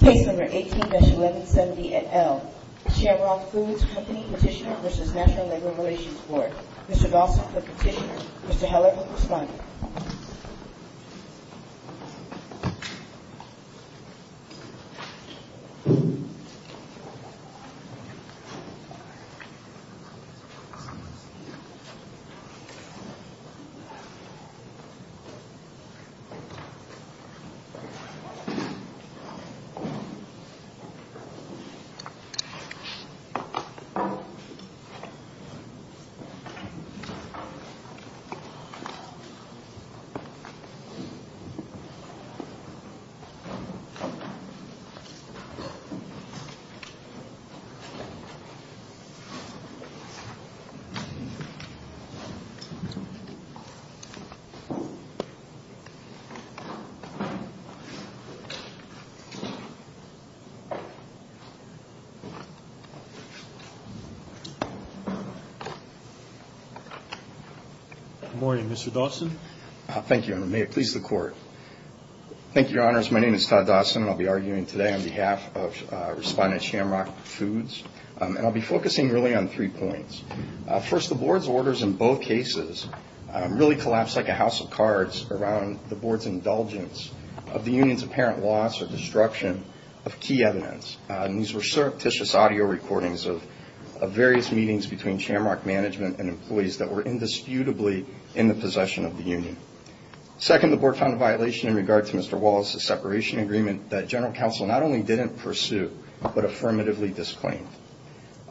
Case No. 18-1170 et al. Shamrock Foods Company Petitioner v. National Labor Relations Board Mr. Gossett, the petitioner. Mr. Heller, the respondent. Mr. Gossett, the respondent. Good morning, Mr. Dawson. Thank you, Your Honor. May it please the Court. Thank you, Your Honors. My name is Todd Dawson, and I'll be arguing today on behalf of Respondent Shamrock Foods. And I'll be focusing really on three points. First, the Board's orders in both cases really collapsed like a house of cards around the Board's indulgence of the union's apparent loss or destruction of key evidence. And these were surreptitious audio recordings of various meetings between Shamrock management and employees that were indisputably in the possession of the union. Second, the Board found a violation in regard to Mr. Wallace's separation agreement that General Counsel not only didn't pursue, but affirmatively disclaimed.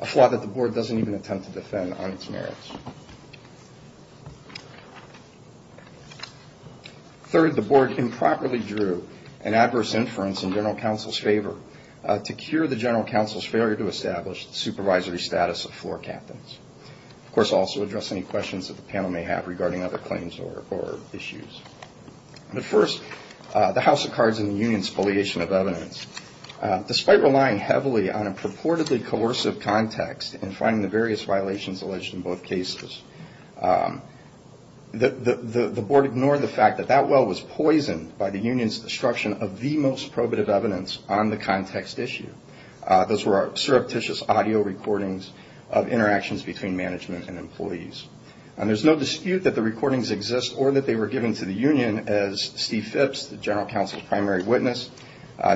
A flaw that the Board doesn't even attempt to defend on its merits. Third, the Board improperly drew an adverse inference in General Counsel's favor to cure the General Counsel's failure to establish the supervisory status of floor captains. Of course, also address any questions that the panel may have regarding other claims or issues. But first, the house of cards and the union's affiliation of evidence. Despite relying heavily on a purportedly coercive context in finding the various violations alleged in both cases, the Board ignored the fact that that well was poisoned by the union's destruction of the most probative evidence on the context issue. Those were surreptitious audio recordings of interactions between management and employees. There's no dispute that the recordings exist or that they were given to the union as Steve Phipps, the General Counsel's primary witness,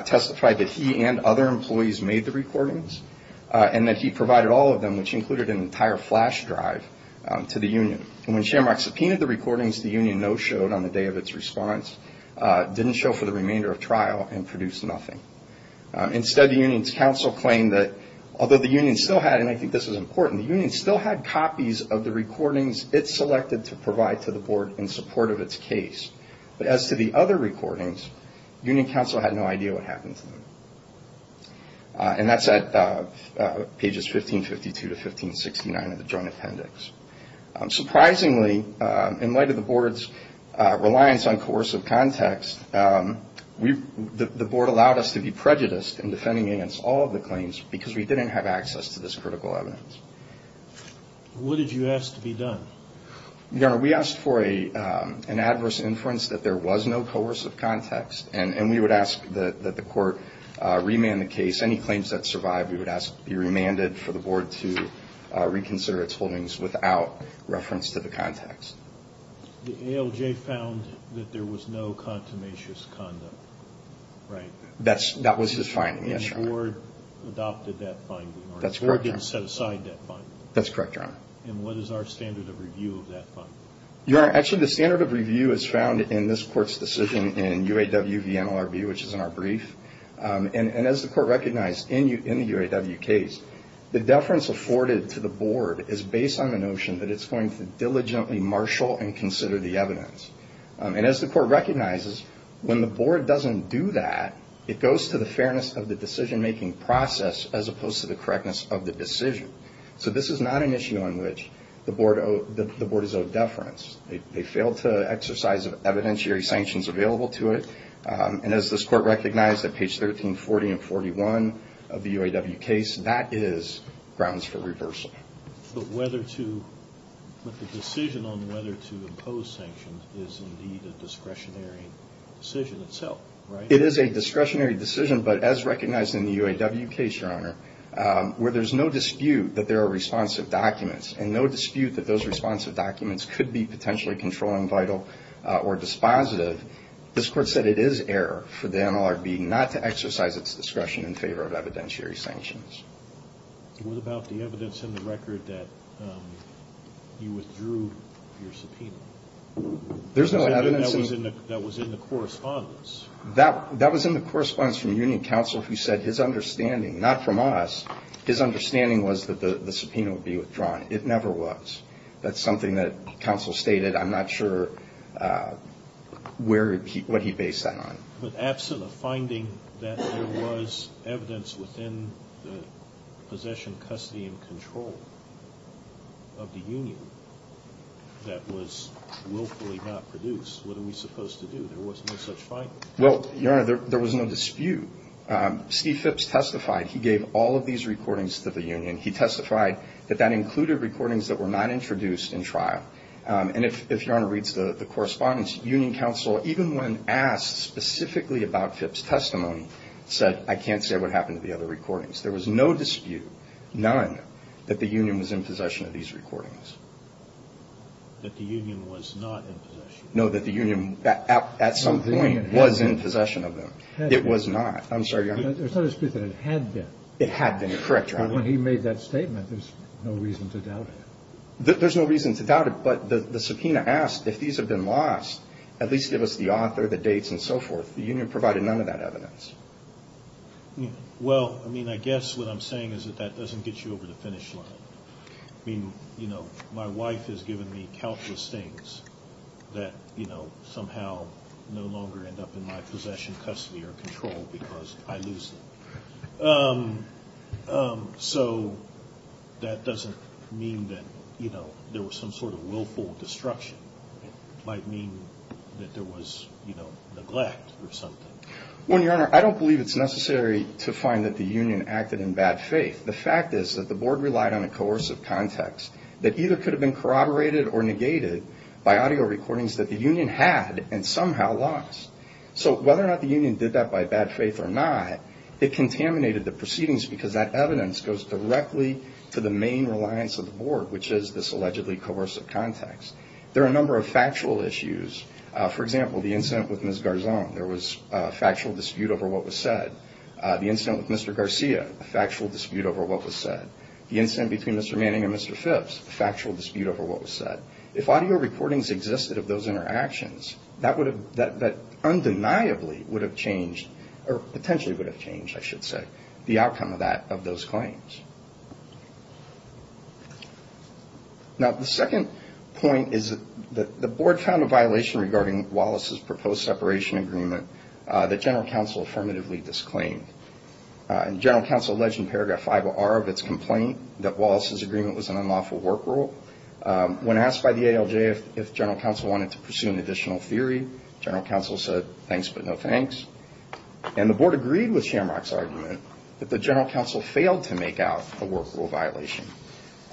testified that he and other employees made the recordings and that he provided all of them, which included an entire flash drive to the union. When Shamrock subpoenaed the recordings, the union no-showed on the day of its response, didn't show for the remainder of trial, and produced nothing. Instead, the union's counsel claimed that, although the union still had, and I think this is important, the union still had copies of the recordings it selected to provide to the Board in support of its case. But as to the other recordings, union counsel had no idea what happened to them. And that's at pages 1552 to 1569 of the Joint Appendix. Surprisingly, in light of the Board's reliance on coercive context, the Board allowed us to be prejudiced in defending against all of the claims because we didn't have access to this critical evidence. What did you ask to be done? Your Honor, we asked for an adverse inference that there was no coercive context, and we would ask that the Court remand the case. Any claims that survived, we would ask to be remanded for the Board to reconsider its holdings without reference to the context. The ALJ found that there was no contumacious conduct, right? That was his finding, yes, Your Honor. And the Board adopted that finding, or the Board didn't set aside that finding? That's correct, Your Honor. And what is our standard of review of that finding? Your Honor, actually the standard of review is found in this Court's decision in UAW v. NLRB, which is in our brief. And as the Court recognized, in the UAW case, the deference afforded to the Board is based on the notion that it's going to diligently marshal and consider the evidence. And as the Court recognizes, when the Board doesn't do that, it goes to the fairness of the decision-making process as opposed to the correctness of the decision. So this is not an issue on which the Board is of deference. They failed to exercise evidentiary sanctions available to it. And as this Court recognized at page 1340 and 41 of the UAW case, that is grounds for reversal. But the decision on whether to impose sanctions is indeed a discretionary decision itself, right? It is a discretionary decision, but as recognized in the UAW case, Your Honor, where there's no dispute that there are responsive documents and no dispute that those responsive documents could be potentially controlling vital or dispositive, this Court said it is error for the NLRB not to exercise its discretion in favor of evidentiary sanctions. What about the evidence in the record that you withdrew your subpoena? There's no evidence. That was in the correspondence. That was in the correspondence from Union Counsel who said his understanding, not from us, his understanding was that the subpoena would be withdrawn. It never was. That's something that Counsel stated. I'm not sure what he based that on. But absent a finding that there was evidence within the possession, custody, and control of the Union that was willfully not produced, what are we supposed to do? There was no such finding. Well, Your Honor, there was no dispute. Steve Phipps testified. He gave all of these recordings to the Union. He testified that that included recordings that were not introduced in trial. And if Your Honor reads the correspondence, Union Counsel, even when asked specifically about Phipps' testimony, said I can't say what happened to the other recordings. There was no dispute, none, that the Union was in possession of these recordings. That the Union was not in possession? No, that the Union at some point was in possession of them. It was not. I'm sorry, Your Honor. There's no dispute that it had been. It had been. You're correct, Your Honor. But when he made that statement, there's no reason to doubt it. There's no reason to doubt it, but the subpoena asked if these had been lost, at least give us the author, the dates, and so forth. The Union provided none of that evidence. Well, I mean, I guess what I'm saying is that that doesn't get you over the finish line. I mean, you know, my wife has given me countless things that, you know, somehow no longer end up in my possession, custody, or control because I lose them. So that doesn't mean that, you know, there was some sort of willful destruction. It might mean that there was, you know, neglect or something. Well, Your Honor, I don't believe it's necessary to find that the Union acted in bad faith. The fact is that the Board relied on a coercive context that either could have been corroborated or negated by audio recordings that the Union had and somehow lost. So whether or not the Union did that by bad faith or not, it contaminated the proceedings because that evidence goes directly to the main reliance of the Board, which is this allegedly coercive context. There are a number of factual issues. For example, the incident with Ms. Garzon, there was a factual dispute over what was said. The incident with Mr. Garcia, a factual dispute over what was said. The incident between Mr. Manning and Mr. Phipps, a factual dispute over what was said. If audio recordings existed of those interactions, that undeniably would have changed or potentially would have changed, I should say, the outcome of that, of those claims. Now, the second point is that the Board found a violation regarding Wallace's proposed separation agreement that General Counsel affirmatively disclaimed. General Counsel alleged in Paragraph 50R of its complaint that Wallace's agreement was an unlawful work rule. When asked by the ALJ if General Counsel wanted to pursue an additional theory, General Counsel said, thanks but no thanks. And the Board agreed with Shamrock's argument that the General Counsel failed to make out a work rule violation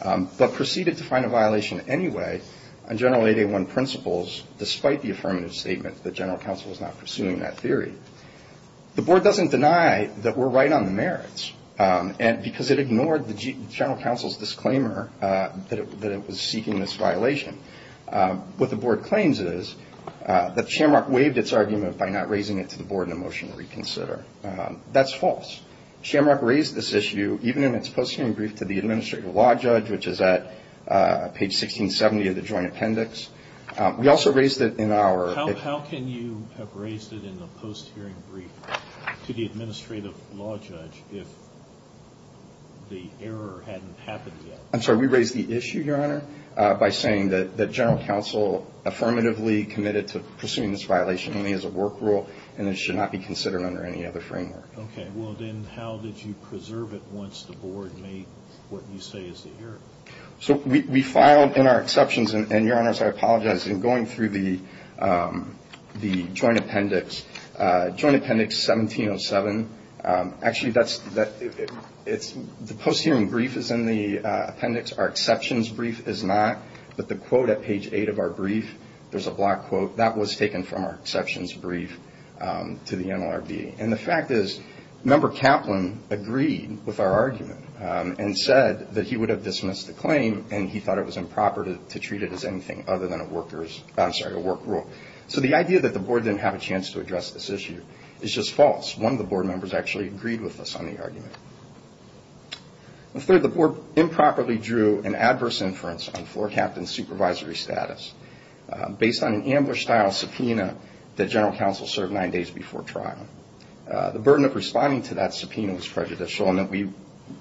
but proceeded to find a violation anyway on General 8A1 principles, despite the affirmative statement that General Counsel was not pursuing that theory. The Board doesn't deny that we're right on the merits because it ignored the General Counsel's disclaimer that it was seeking this violation. What the Board claims is that Shamrock waived its argument by not raising it to the Board in a motion to reconsider. That's false. Shamrock raised this issue even in its post-hearing brief to the Administrative Law Judge, which is at page 1670 of the Joint Appendix. We also raised it in our- The error hadn't happened yet. I'm sorry, we raised the issue, Your Honor, by saying that General Counsel affirmatively committed to pursuing this violation only as a work rule and it should not be considered under any other framework. Okay, well then how did you preserve it once the Board made what you say is the error? So we filed in our exceptions, and Your Honors, I apologize, in going through the Joint Appendix, Joint Appendix 1707. Actually, the post-hearing brief is in the appendix. Our exceptions brief is not. But the quote at page 8 of our brief, there's a black quote, that was taken from our exceptions brief to the NLRB. And the fact is Member Kaplan agreed with our argument and said that he would have dismissed the claim and he thought it was improper to treat it as anything other than a work rule. So the idea that the Board didn't have a chance to address this issue is just false. One of the Board members actually agreed with us on the argument. Third, the Board improperly drew an adverse inference on Floor Captain's supervisory status based on an ambush-style subpoena that General Counsel served nine days before trial. The burden of responding to that subpoena was prejudicial in that we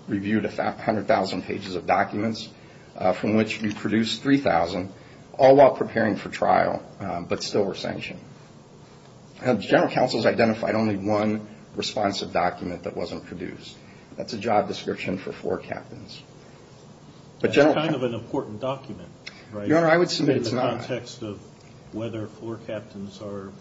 reviewed 100,000 pages of documents from which we produced 3,000, all while preparing for trial, but still were sanctioned. General Counsel has identified only one responsive document that wasn't produced. That's a job description for Floor Captains. That's kind of an important document, right? Your Honor, I would submit it's not. In the context of whether Floor Captains are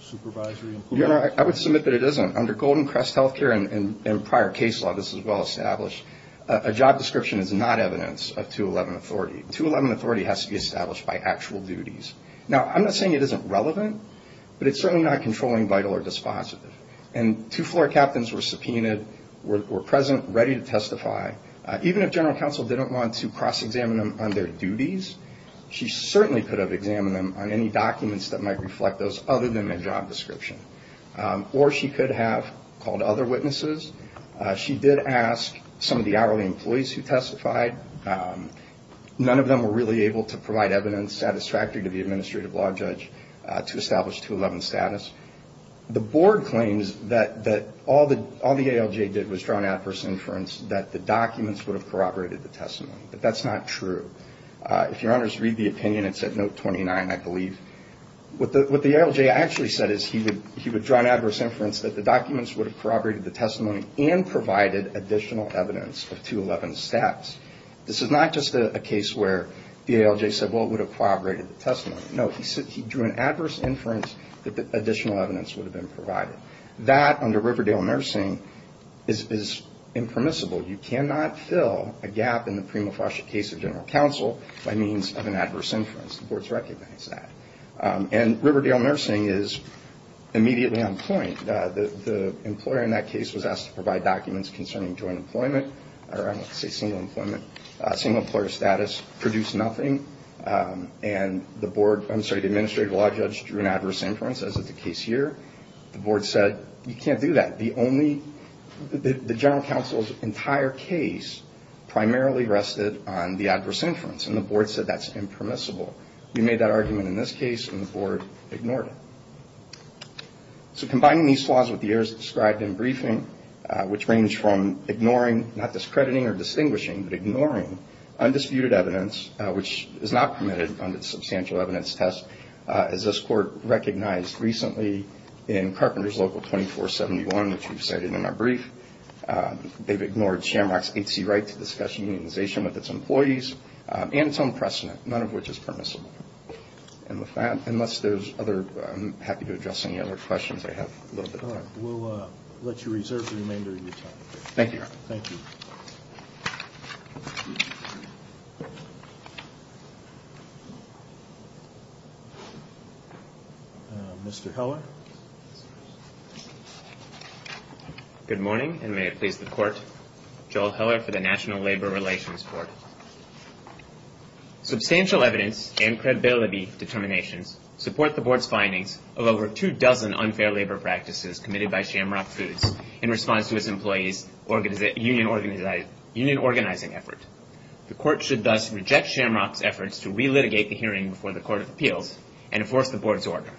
supervisory employees. Your Honor, I would submit that it isn't. Under Golden Crest Health Care and prior case law, this is well established. A job description is not evidence of 211 authority. 211 authority has to be established by actual duties. Now, I'm not saying it isn't relevant, but it's certainly not controlling, vital, or dispositive. Two Floor Captains were subpoenaed, were present, ready to testify. Even if General Counsel didn't want to cross-examine them on their duties, she certainly could have examined them on any documents that might reflect those other than a job description. Or she could have called other witnesses. She did ask some of the hourly employees who testified. None of them were really able to provide evidence satisfactory to the Administrative Law Judge to establish 211 status. The Board claims that all the ALJ did was draw an adverse inference that the documents would have corroborated the testimony. But that's not true. If Your Honors read the opinion, it's at Note 29, I believe. What the ALJ actually said is he would draw an adverse inference that the documents would have corroborated the testimony and provided additional evidence of 211 status. This is not just a case where the ALJ said, well, it would have corroborated the testimony. No, he drew an adverse inference that additional evidence would have been provided. That, under Riverdale Nursing, is impermissible. You cannot fill a gap in the prima facie case of General Counsel by means of an adverse inference. The Board's recognized that. And Riverdale Nursing is immediately on point. The employer in that case was asked to provide documents concerning joint employment, or I want to say single employer status, produced nothing. And the Board, I'm sorry, the Administrative Law Judge drew an adverse inference, as is the case here. The Board said, you can't do that. The General Counsel's entire case primarily rested on the adverse inference. And the Board said that's impermissible. We made that argument in this case, and the Board ignored it. So combining these flaws with the errors described in briefing, which range from ignoring, not discrediting or distinguishing, but ignoring undisputed evidence, which is not permitted under the Substantial Evidence Test, as this Court recognized recently in Carpenters Local 2471, which we've cited in our brief, they've ignored Shamrock's 8C right to discuss unionization with its employees, and its own precedent, none of which is permissible. And with that, unless there's other, I'm happy to address any other questions I have. We'll let you reserve the remainder of your time. Thank you, Your Honor. Thank you. Mr. Heller. Good morning, and may it please the Court. Joel Heller for the National Labor Relations Court. Substantial evidence and credibility determinations support the Board's findings of over two dozen unfair labor practices committed by Shamrock Foods in response to its employees' union organizing effort. The Court should thus reject Shamrock's efforts to relitigate the hearing before the Court of Appeals and enforce the Board's order.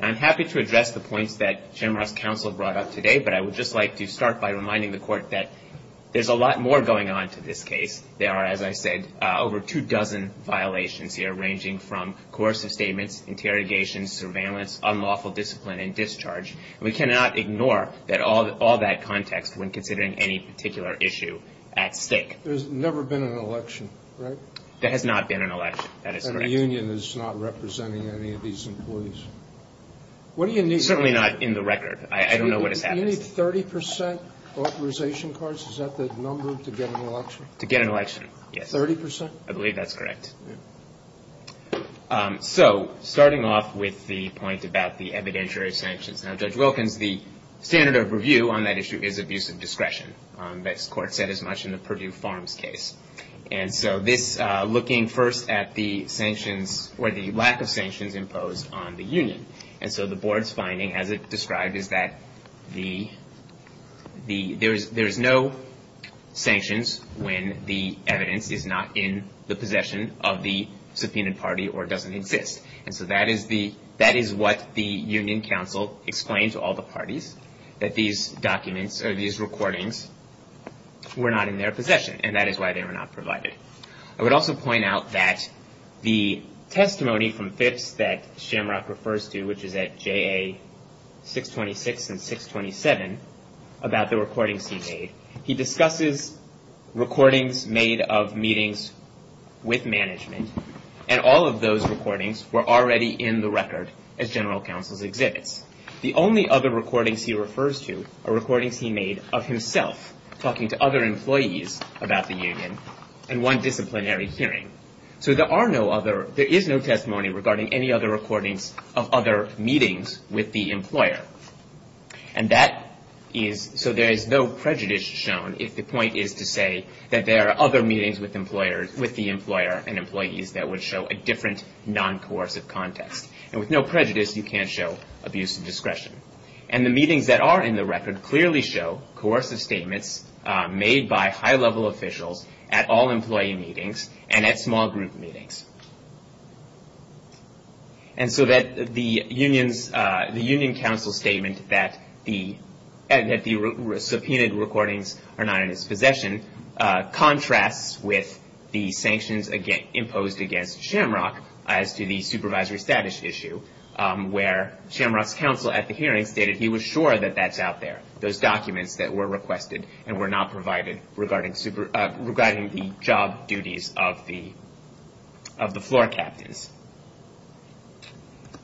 I'm happy to address the points that Shamrock's counsel brought up today, but I would just like to start by reminding the Court that there's a lot more going on to this case. There are, as I said, over two dozen violations here, ranging from coercive statements, interrogations, surveillance, unlawful discipline, and discharge. We cannot ignore all that context when considering any particular issue at stake. There's never been an election, right? There has not been an election. That is correct. And the union is not representing any of these employees. What do you need? Certainly not in the record. I don't know what has happened. Do you need 30 percent authorization cards? Is that the number to get an election? To get an election, yes. 30 percent? I believe that's correct. So starting off with the point about the evidentiary sanctions. Now, Judge Wilkins, the standard of review on that issue is abuse of discretion. That's what the Court said as much in the Purdue Farms case. And so this, looking first at the sanctions or the lack of sanctions imposed on the union. And so the board's finding, as it described, is that there's no sanctions when the evidence is not in the possession of the subpoenaed party or doesn't exist. And so that is what the union counsel explained to all the parties, that these documents or these recordings were not in their possession, and that is why they were not provided. I would also point out that the testimony from Phipps that Shamrock refers to, which is at JA 626 and 627, about the recordings he made. He discusses recordings made of meetings with management, and all of those recordings were already in the record as general counsel's exhibits. The only other recordings he refers to are recordings he made of himself talking to other employees about the union and one disciplinary hearing. So there is no testimony regarding any other recordings of other meetings with the employer. And so there is no prejudice shown if the point is to say that there are other meetings with the employer and employees that would show a different non-coercive context. And with no prejudice, you can't show abuse of discretion. And the meetings that are in the record clearly show coercive statements made by high-level officials at all employee meetings and at small group meetings. And so the union counsel's statement that the subpoenaed recordings are not in his possession contrasts with the sanctions imposed against Shamrock as to the supervisory status issue, where Shamrock's counsel at the hearing stated he was sure that that's out there, those documents that were requested and were not provided regarding the job duties of the floor captains.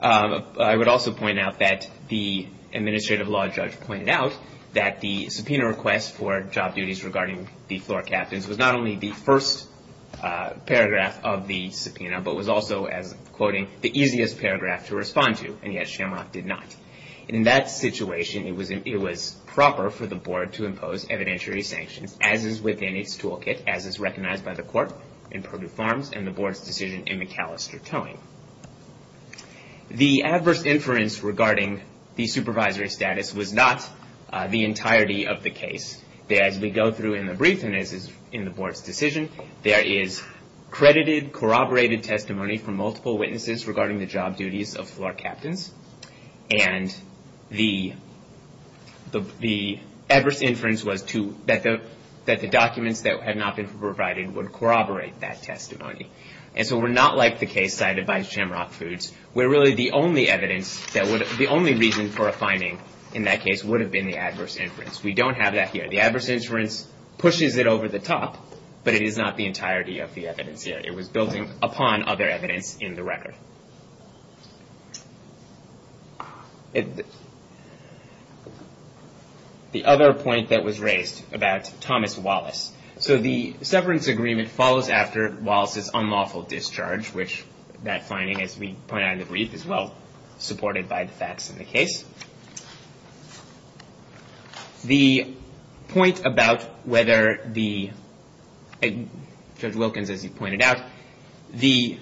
I would also point out that the administrative law judge pointed out that the subpoena request for job duties regarding the floor captains was not only the first paragraph of the subpoena, but was also, as I'm quoting, the easiest paragraph to respond to, and yet Shamrock did not. In that situation, it was proper for the board to impose evidentiary sanctions, as is within its toolkit, as is recognized by the court in Purdue Farms and the board's decision in McAllister Towing. The adverse inference regarding the supervisory status was not the entirety of the case. As we go through in the brief and as is in the board's decision, there is credited corroborated testimony from multiple witnesses regarding the job duties of floor captains, and the adverse inference was that the documents that had not been provided would corroborate that testimony. And so we're not like the case cited by Shamrock Foods, where really the only reason for a finding in that case would have been the adverse inference. We don't have that here. The adverse inference pushes it over the top, but it is not the entirety of the evidence here. It was building upon other evidence in the record. The other point that was raised about Thomas Wallace. So the severance agreement follows after Wallace's unlawful discharge, which that finding, as we point out in the brief, is well supported by the facts in the case. The point about whether the, Judge Wilkins, as he pointed out, the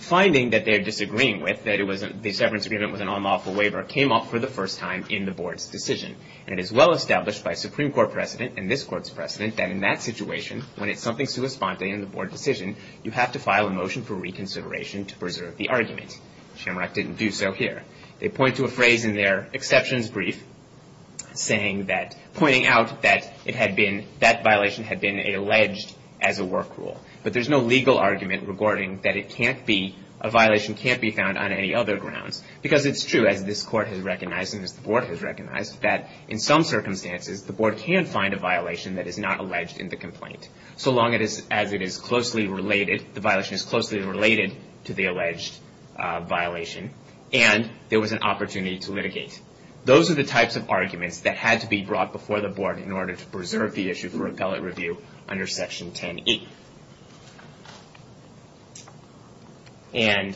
finding that they're disagreeing with, that the severance agreement was an unlawful waiver, came up for the first time in the board's decision. And it is well established by Supreme Court precedent and this court's precedent that in that situation, when it's something sui sponte in the board decision, you have to file a motion for reconsideration to preserve the argument. Shamrock didn't do so here. They point to a phrase in their exceptions brief saying that, pointing out that it had been, that violation had been alleged as a work rule. But there's no legal argument regarding that it can't be, a violation can't be found on any other grounds. Because it's true, as this court has recognized and as the board has recognized, that in some circumstances the board can find a violation that is not alleged in the complaint. So long as it is closely related, the violation is closely related to the alleged violation. And there was an opportunity to litigate. Those are the types of arguments that had to be brought before the board in order to preserve the issue for appellate review under Section 10E. And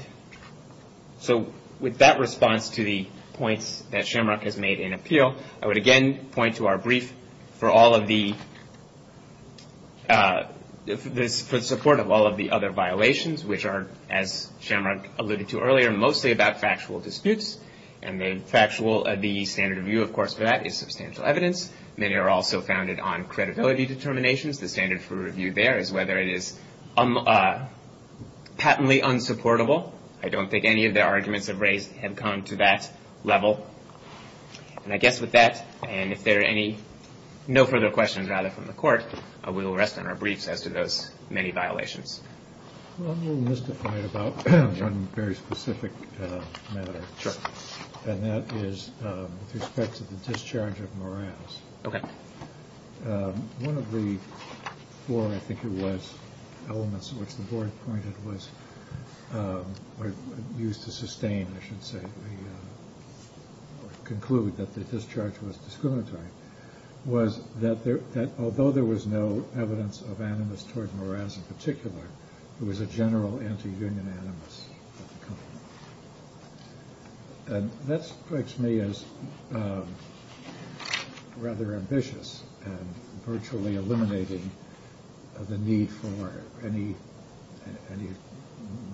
so with that response to the points that Shamrock has made in appeal, I would again point to our brief for all of the, for the support of all of the other violations, which are, as Shamrock alluded to earlier, mostly about factual disputes. And the factual, the standard of view, of course, for that is substantial evidence. Many are also founded on credibility determinations. The standard for review there is whether it is patently unsupportable. I don't think any of the arguments have come to that level. And I guess with that, and if there are any, no further questions, rather, from the court, we will rest on our briefs as to those many violations. Well, I'm a little mystified about one very specific matter. Sure. And that is with respect to the discharge of Morales. Okay. One of the four, I think it was, elements which the board pointed was, or used to sustain, I should say, or conclude that the discharge was discriminatory, was that although there was no evidence of animus toward Morales in particular, it was a general anti-union animus. And that strikes me as rather ambitious, and virtually eliminating the need for any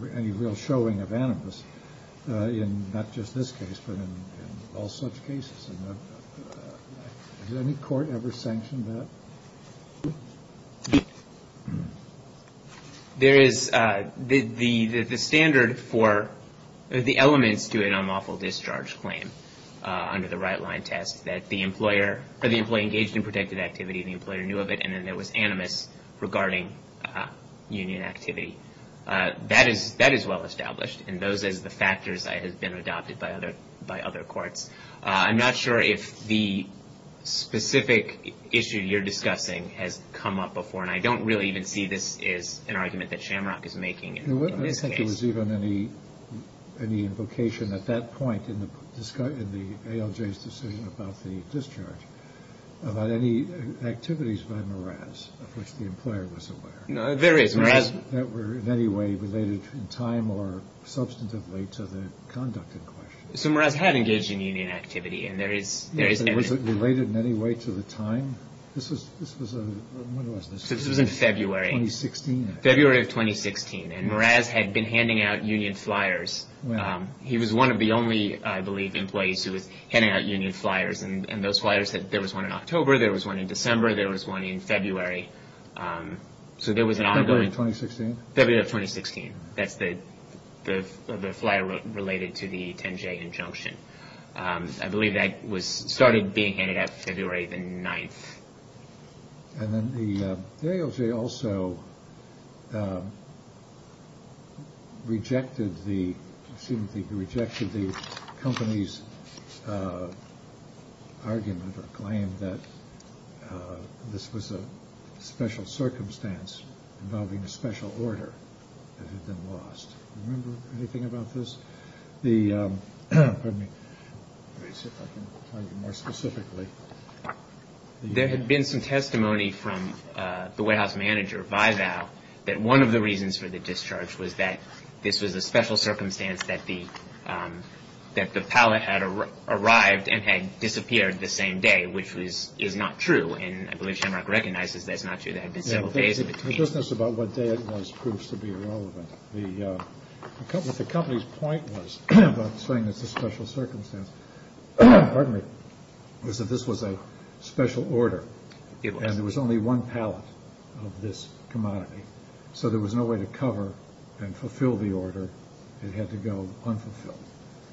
real showing of animus, in not just this case, but in all such cases. Has any court ever sanctioned that? There is. The standard for the elements to an unlawful discharge claim under the right-line test, that the employer engaged in protected activity, the employer knew of it, and then there was animus regarding union activity, that is well established. And those are the factors that have been adopted by other courts. I'm not sure if the specific issue you're discussing has come up before, and I don't really even see this as an argument that Shamrock is making in this case. I don't think there was even any invocation at that point in the ALJ's decision about the discharge, about any activities by Morales of which the employer was aware. There is. That were in any way related in time or substantively to the conduct in question. So Morales had engaged in union activity, and there is animus. Was it related in any way to the time? This was in February. 2016. February of 2016. And Morales had been handing out union flyers. He was one of the only, I believe, employees who was handing out union flyers. And those flyers, there was one in October, there was one in December, there was one in February. So there was an ongoing. February of 2016. February of 2016. That's the flyer related to the 10-J injunction. I believe that started being handed out February the 9th. And then the ALJ also rejected the company's argument or claim that this was a special circumstance involving a special order that had been lost. Do you remember anything about this? Pardon me. Let me see if I can argue more specifically. There had been some testimony from the White House manager, Vival, that one of the reasons for the discharge was that this was a special circumstance, that the pallet had arrived and had disappeared the same day, which is not true. And I believe Shamrock recognizes that's not true. There had been several days in between. The business about what day it was proves to be irrelevant. What the company's point was about saying it's a special circumstance, pardon me, was that this was a special order. It was. And there was only one pallet of this commodity. So there was no way to cover and fulfill the order. It had to go unfulfilled.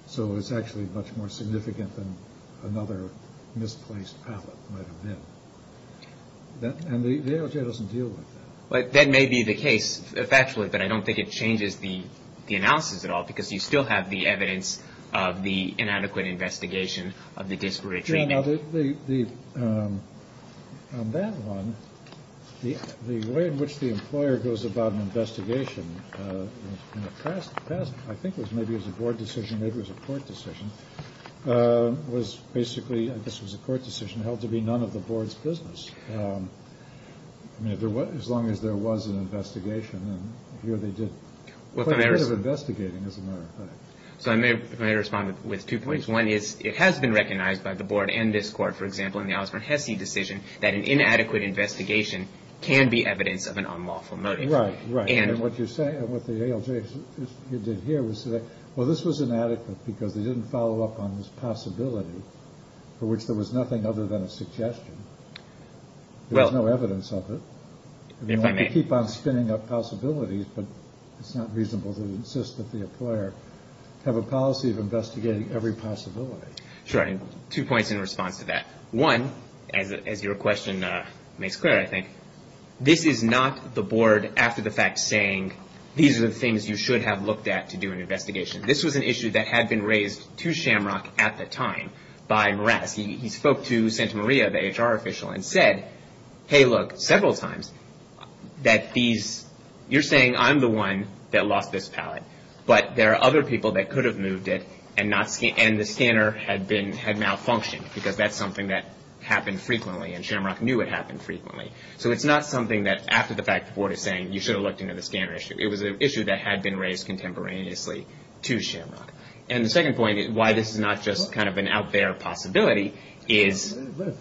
So it was actually much more significant than another misplaced pallet might have been. And the ALJ doesn't deal with that. That may be the case factually, but I don't think it changes the analysis at all, because you still have the evidence of the inadequate investigation of the disparate treatment. On that one, the way in which the employer goes about an investigation in the past, I think it was maybe it was a board decision, maybe it was a court decision, was basically, I guess it was a court decision, held to be none of the board's business. I mean, as long as there was an investigation, and here they did quite a bit of investigating, as a matter of fact. So if I may respond with two points. One is it has been recognized by the board and this court, for example, in the Alice Van Hesse decision that an inadequate investigation can be evidence of an unlawful motive. Right, right. And what you're saying, what the ALJ did here was say, well, this was inadequate because they didn't follow up on this possibility for which there was nothing other than a suggestion. There was no evidence of it. If I may. They keep on spinning up possibilities, but it's not reasonable to insist that the employer have a policy of investigating every possibility. Sure, and two points in response to that. One, as your question makes clear, I think, this is not the board after the fact saying, these are the things you should have looked at to do an investigation. This was an issue that had been raised to Shamrock at the time by Morass. He spoke to Santa Maria, the HR official, and said, hey, look, several times that these, you're saying I'm the one that lost this pallet, but there are other people that could have moved it and the scanner had malfunctioned because that's something that happened frequently and Shamrock knew it happened frequently. So it's not something that after the fact the board is saying you should have looked into the scanner issue. It was an issue that had been raised contemporaneously to Shamrock. And the second point is why this is not just kind of an out there possibility is.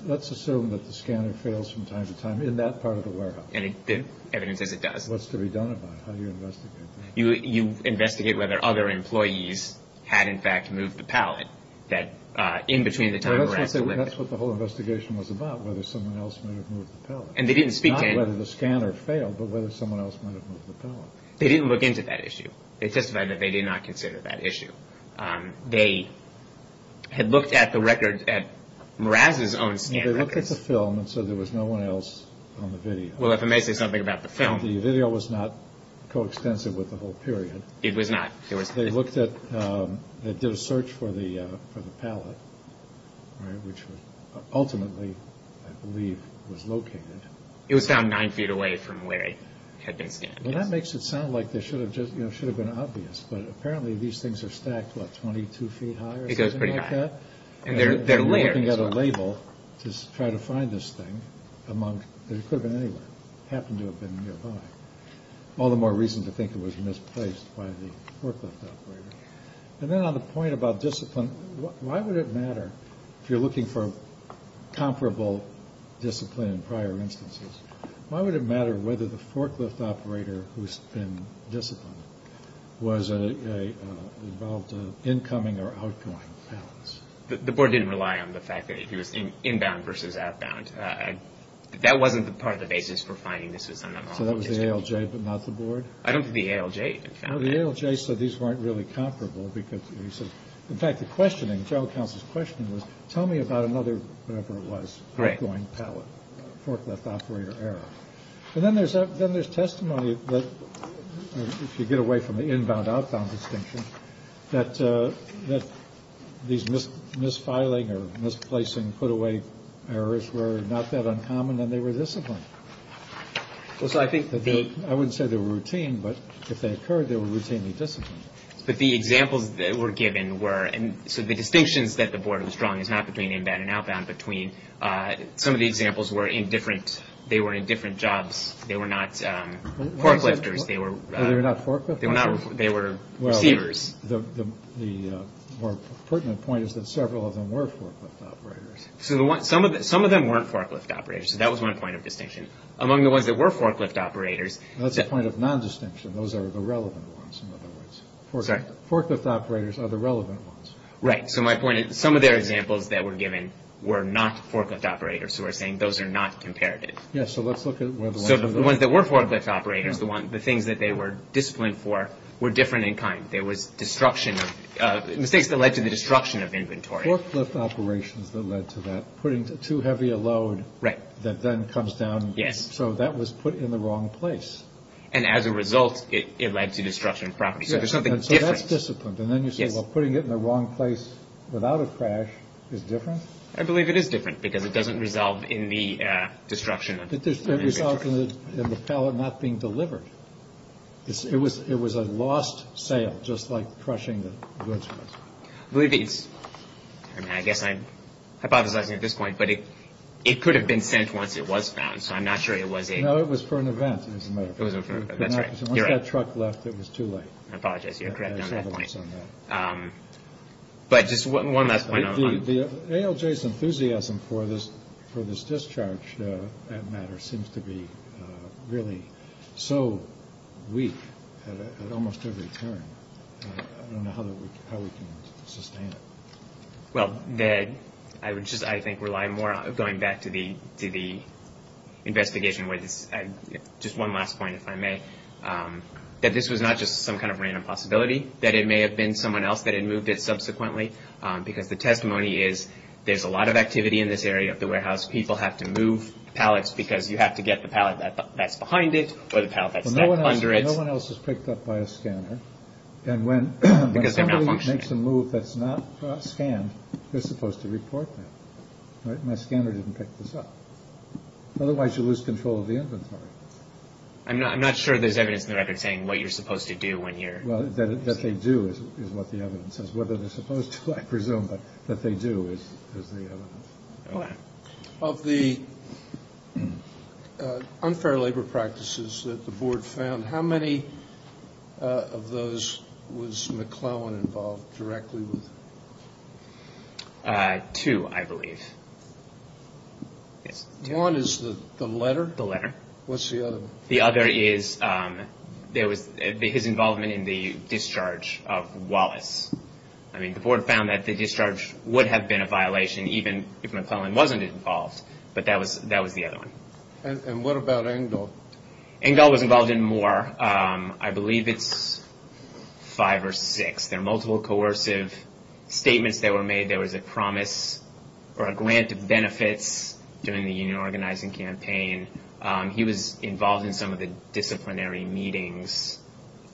Let's assume that the scanner fails from time to time in that part of the warehouse. And the evidence says it does. What's to be done about it? How do you investigate that? You investigate whether other employees had in fact moved the pallet that in between the time of Morass. That's what the whole investigation was about, whether someone else might have moved the pallet. And they didn't speak to it. Not whether the scanner failed, but whether someone else might have moved the pallet. They didn't look into that issue. They testified that they did not consider that issue. They had looked at the records at Morass' own scan records. They looked at the film and said there was no one else on the video. Well, if I may say something about the film. The video was not coextensive with the whole period. It was not. They looked at, they did a search for the pallet, which ultimately I believe was located. It was found nine feet away from where it had been scanned. Well, that makes it sound like they should have just, you know, should have been obvious. But apparently these things are stacked, what, 22 feet high or something like that? It goes pretty high. And they're layered. They're looking at a label to try to find this thing. It could have been anywhere. It happened to have been nearby. All the more reason to think it was misplaced by the forklift operator. And then on the point about discipline, why would it matter if you're looking for comparable discipline in prior instances? Why would it matter whether the forklift operator who's been disciplined was involved in incoming or outgoing pallets? The board didn't rely on the fact that he was inbound versus outbound. That wasn't part of the basis for finding this was on the wrong location. So that was the ALJ but not the board? I don't think the ALJ found it. The ALJ said these weren't really comparable because, in fact, the questioning, was tell me about another, whatever it was, outgoing pallet, forklift operator error. And then there's testimony that, if you get away from the inbound-outbound distinction, that these misfiling or misplacing put-away errors were not that uncommon and they were disciplined. I wouldn't say they were routine, but if they occurred, they were routinely disciplined. But the examples that were given were – so the distinctions that the board was drawing is not between inbound and outbound. Some of the examples were in different – they were in different jobs. They were not forklifters. They were not forklifters? They were receivers. The more pertinent point is that several of them were forklift operators. Some of them weren't forklift operators, so that was one point of distinction. Among the ones that were forklift operators – That's a point of nondistinction. Those are the relevant ones, in other words. Forklift operators are the relevant ones. Right. So my point is some of the examples that were given were not forklift operators, so we're saying those are not comparative. Yes. So let's look at – So the ones that were forklift operators, the things that they were disciplined for, were different in kind. There was destruction of – mistakes that led to the destruction of inventory. Forklift operations that led to that. Putting too heavy a load that then comes down. Yes. So that was put in the wrong place. And as a result, it led to destruction of property. So there's something different. So that's disciplined. And then you say, well, putting it in the wrong place without a crash is different? I believe it is different because it doesn't resolve in the destruction of inventory. It resolved in the pallet not being delivered. It was a lost sale, just like crushing the goods. I guess I'm hypothesizing at this point, but it could have been sent once it was found, so I'm not sure it was a – No, it was for an event. Once that truck left, it was too late. I apologize. You're correct on that point. But just one last point. ALJ's enthusiasm for this discharge, that matter, seems to be really so weak at almost every turn. I don't know how we can sustain it. Well, I would just, I think, rely more on going back to the investigation where this – just one last point, if I may, that this was not just some kind of random possibility, that it may have been someone else that had moved it subsequently, because the testimony is there's a lot of activity in this area of the warehouse. People have to move pallets because you have to get the pallet that's behind it or the pallet that's under it. No one else is picked up by a scanner. And when somebody makes a move that's not scanned, they're supposed to report that. My scanner didn't pick this up. Otherwise, you lose control of the inventory. I'm not sure there's evidence in the record saying what you're supposed to do when you're – Well, that they do is what the evidence says. Whether they're supposed to, I presume, but that they do is the evidence. Of the unfair labor practices that the Board found, how many of those was McClellan involved directly with? Two, I believe. One is the letter? The letter. What's the other? The other is there was his involvement in the discharge of Wallace. I mean, the Board found that the discharge would have been a violation even if McClellan wasn't involved, but that was the other one. And what about Engdahl? Engdahl was involved in more. I believe it's five or six. There are multiple coercive statements that were made. There was a promise or a grant of benefits during the union organizing campaign. He was involved in some of the disciplinary meetings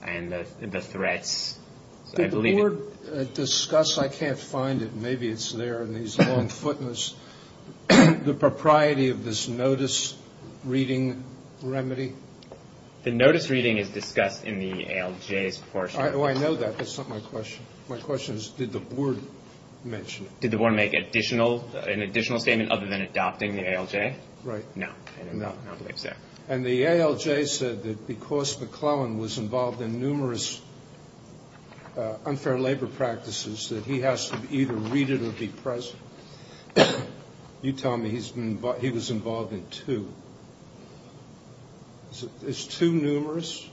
and the threats. Did the Board discuss – I can't find it. Maybe it's there in these long footnotes – the propriety of this notice-reading remedy? The notice-reading is discussed in the ALJ's portion. Oh, I know that. That's not my question. My question is did the Board mention it? Did the Board make an additional statement other than adopting the ALJ? Right. No. No. I don't believe so. And the ALJ said that because McClellan was involved in numerous unfair labor practices, that he has to either read it or be present. You tell me he was involved in two. Is two numerous?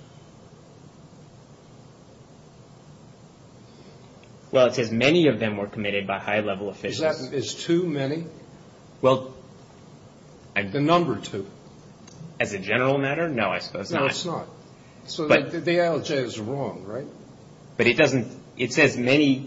Well, it says many of them were committed by high-level officials. Is two many? The number two. As a general matter, no, I suppose not. No, it's not. So the ALJ is wrong, right? But it doesn't – it says many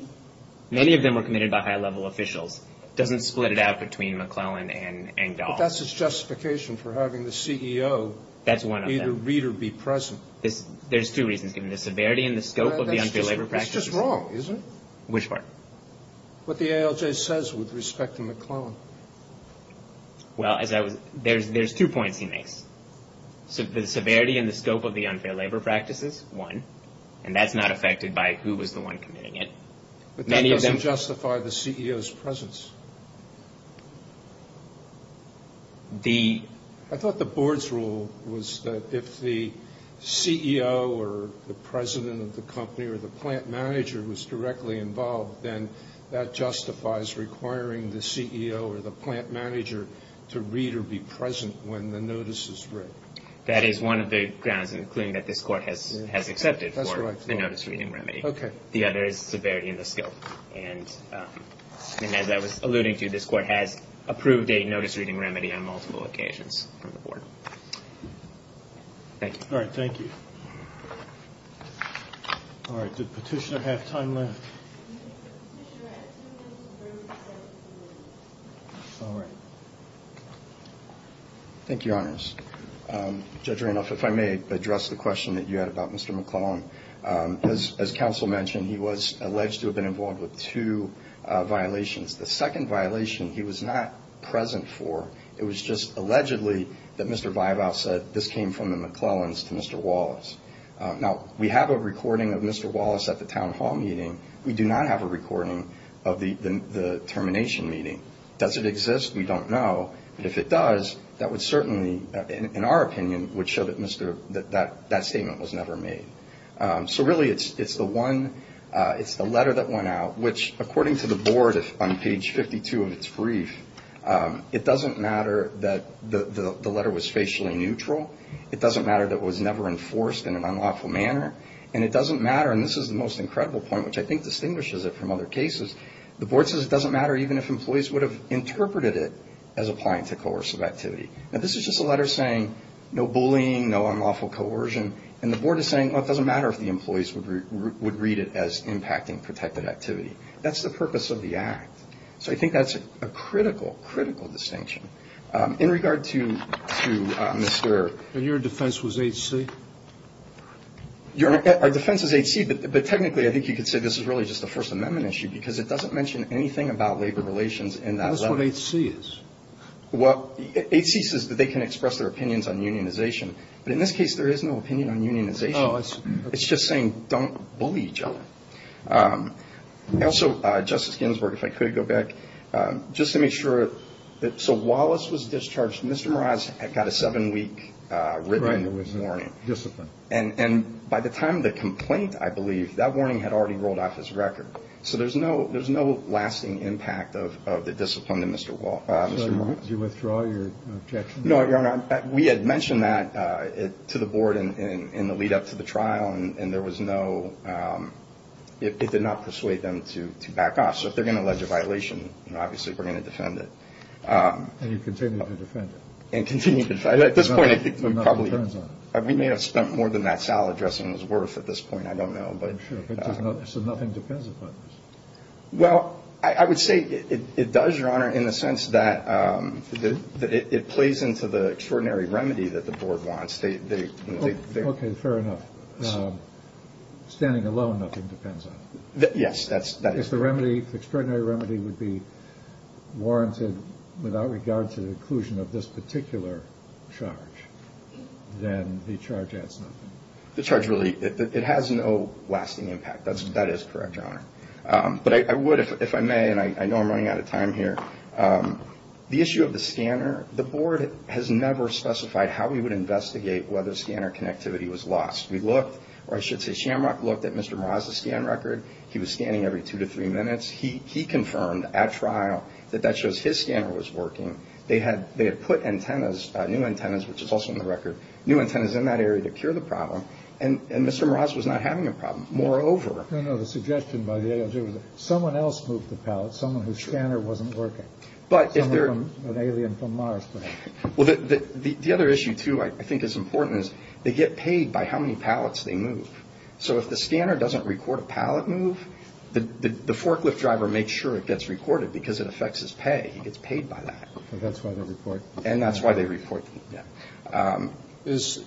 of them were committed by high-level officials. It doesn't split it out between McClellan and Dahl. But that's its justification for having the CEO either read or be present. That's one of them. There's two reasons, given the severity and the scope of the unfair labor practices. It's just wrong, isn't it? Which part? What the ALJ says with respect to McClellan. Well, there's two points he makes. The severity and the scope of the unfair labor practices, one, and that's not affected by who was the one committing it. But that doesn't justify the CEO's presence. I thought the board's rule was that if the CEO or the president of the company or the plant manager was directly involved, then that justifies requiring the CEO or the plant manager to read or be present when the notice is read. That is one of the grounds, including that this court has accepted for the notice-reading remedy. Okay. The other is severity and the scope. And as I was alluding to, this court has approved a notice-reading remedy on multiple occasions from the board. Thank you. All right, thank you. All right, did Petitioner have time left? All right. Thank you, Your Honors. Judge Randolph, if I may address the question that you had about Mr. McClellan. As counsel mentioned, he was alleged to have been involved with two violations. The second violation he was not present for, it was just allegedly that Mr. Weibow said, this came from the McClellans to Mr. Wallace. Now, we have a recording of Mr. Wallace at the town hall meeting. We do not have a recording of the termination meeting. Does it exist? We don't know. But if it does, that would certainly, in our opinion, would show that that statement was never made. So really, it's the letter that went out, which according to the board on page 52 of its brief, it doesn't matter that the letter was facially neutral. It doesn't matter that it was never enforced in an unlawful manner. And it doesn't matter, and this is the most incredible point, which I think distinguishes it from other cases. The board says it doesn't matter even if employees would have interpreted it as applying to coercive activity. Now, this is just a letter saying no bullying, no unlawful coercion. And the board is saying, well, it doesn't matter if the employees would read it as impacting protected activity. That's the purpose of the act. So I think that's a critical, critical distinction. In regard to Mr. And your defense was 8C? Our defense is 8C, but technically I think you could say this is really just a First Amendment issue because it doesn't mention anything about labor relations in that letter. That's what 8C is. Well, 8C says that they can express their opinions on unionization. But in this case, there is no opinion on unionization. Oh, I see. It's just saying don't bully each other. Also, Justice Ginsburg, if I could go back, just to make sure. So Wallace was discharged. Mr. had got a seven-week written warning. And by the time the complaint, I believe, that warning had already rolled off his record. So there's no lasting impact of the discipline to Mr. Did you withdraw your objection? No, Your Honor. We had mentioned that to the board in the lead-up to the trial, and it did not persuade them to back off. So if they're going to allege a violation, obviously we're going to defend it. And you continue to defend it? And continue to defend it. At this point, I think we may have spent more than that salad dressing was worth at this point. I don't know. I'm sure. So nothing depends upon this? Well, I would say it does, Your Honor, in the sense that it plays into the extraordinary remedy that the board wants. Okay, fair enough. Standing alone, nothing depends on it? Yes, that is correct. If the remedy, the extraordinary remedy, would be warranted without regard to the inclusion of this particular charge, then the charge adds nothing? The charge really, it has no lasting impact. That is correct, Your Honor. But I would, if I may, and I know I'm running out of time here, the issue of the scanner, the board has never specified how we would investigate whether scanner connectivity was lost. We looked, or I should say Shamrock looked at Mr. Mraz's scan record. He was scanning every two to three minutes. He confirmed at trial that that shows his scanner was working. They had put antennas, new antennas, which is also in the record, new antennas in that area to cure the problem, and Mr. Mraz was not having a problem. Moreover. No, no, the suggestion by the aliens was that someone else moved the pallet, someone whose scanner wasn't working. Someone from, an alien from Mars, perhaps. The other issue, too, I think is important is they get paid by how many pallets they move. So if the scanner doesn't record a pallet move, the forklift driver makes sure it gets recorded because it affects his pay. He gets paid by that. And that's why they report. And that's why they report. Is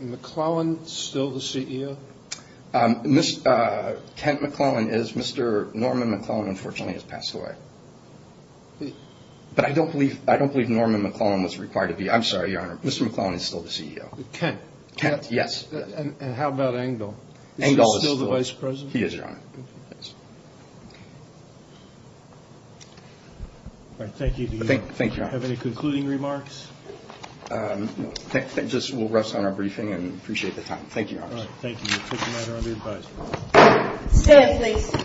McClellan still the CEO? Kent McClellan is. Mr. Norman McClellan, unfortunately, has passed away. But I don't believe, I don't believe Norman McClellan was required to be. I'm sorry, Your Honor. Mr. McClellan is still the CEO. Kent. Kent, yes. And how about Engdahl? Engdahl is still. Is he still the vice president? He is, Your Honor. All right, thank you. Thank you, Your Honor. Do you have any concluding remarks? No, just we'll rest on our briefing and appreciate the time. Thank you, Your Honor. All right, thank you. We'll take the matter under advisory. Stand, please.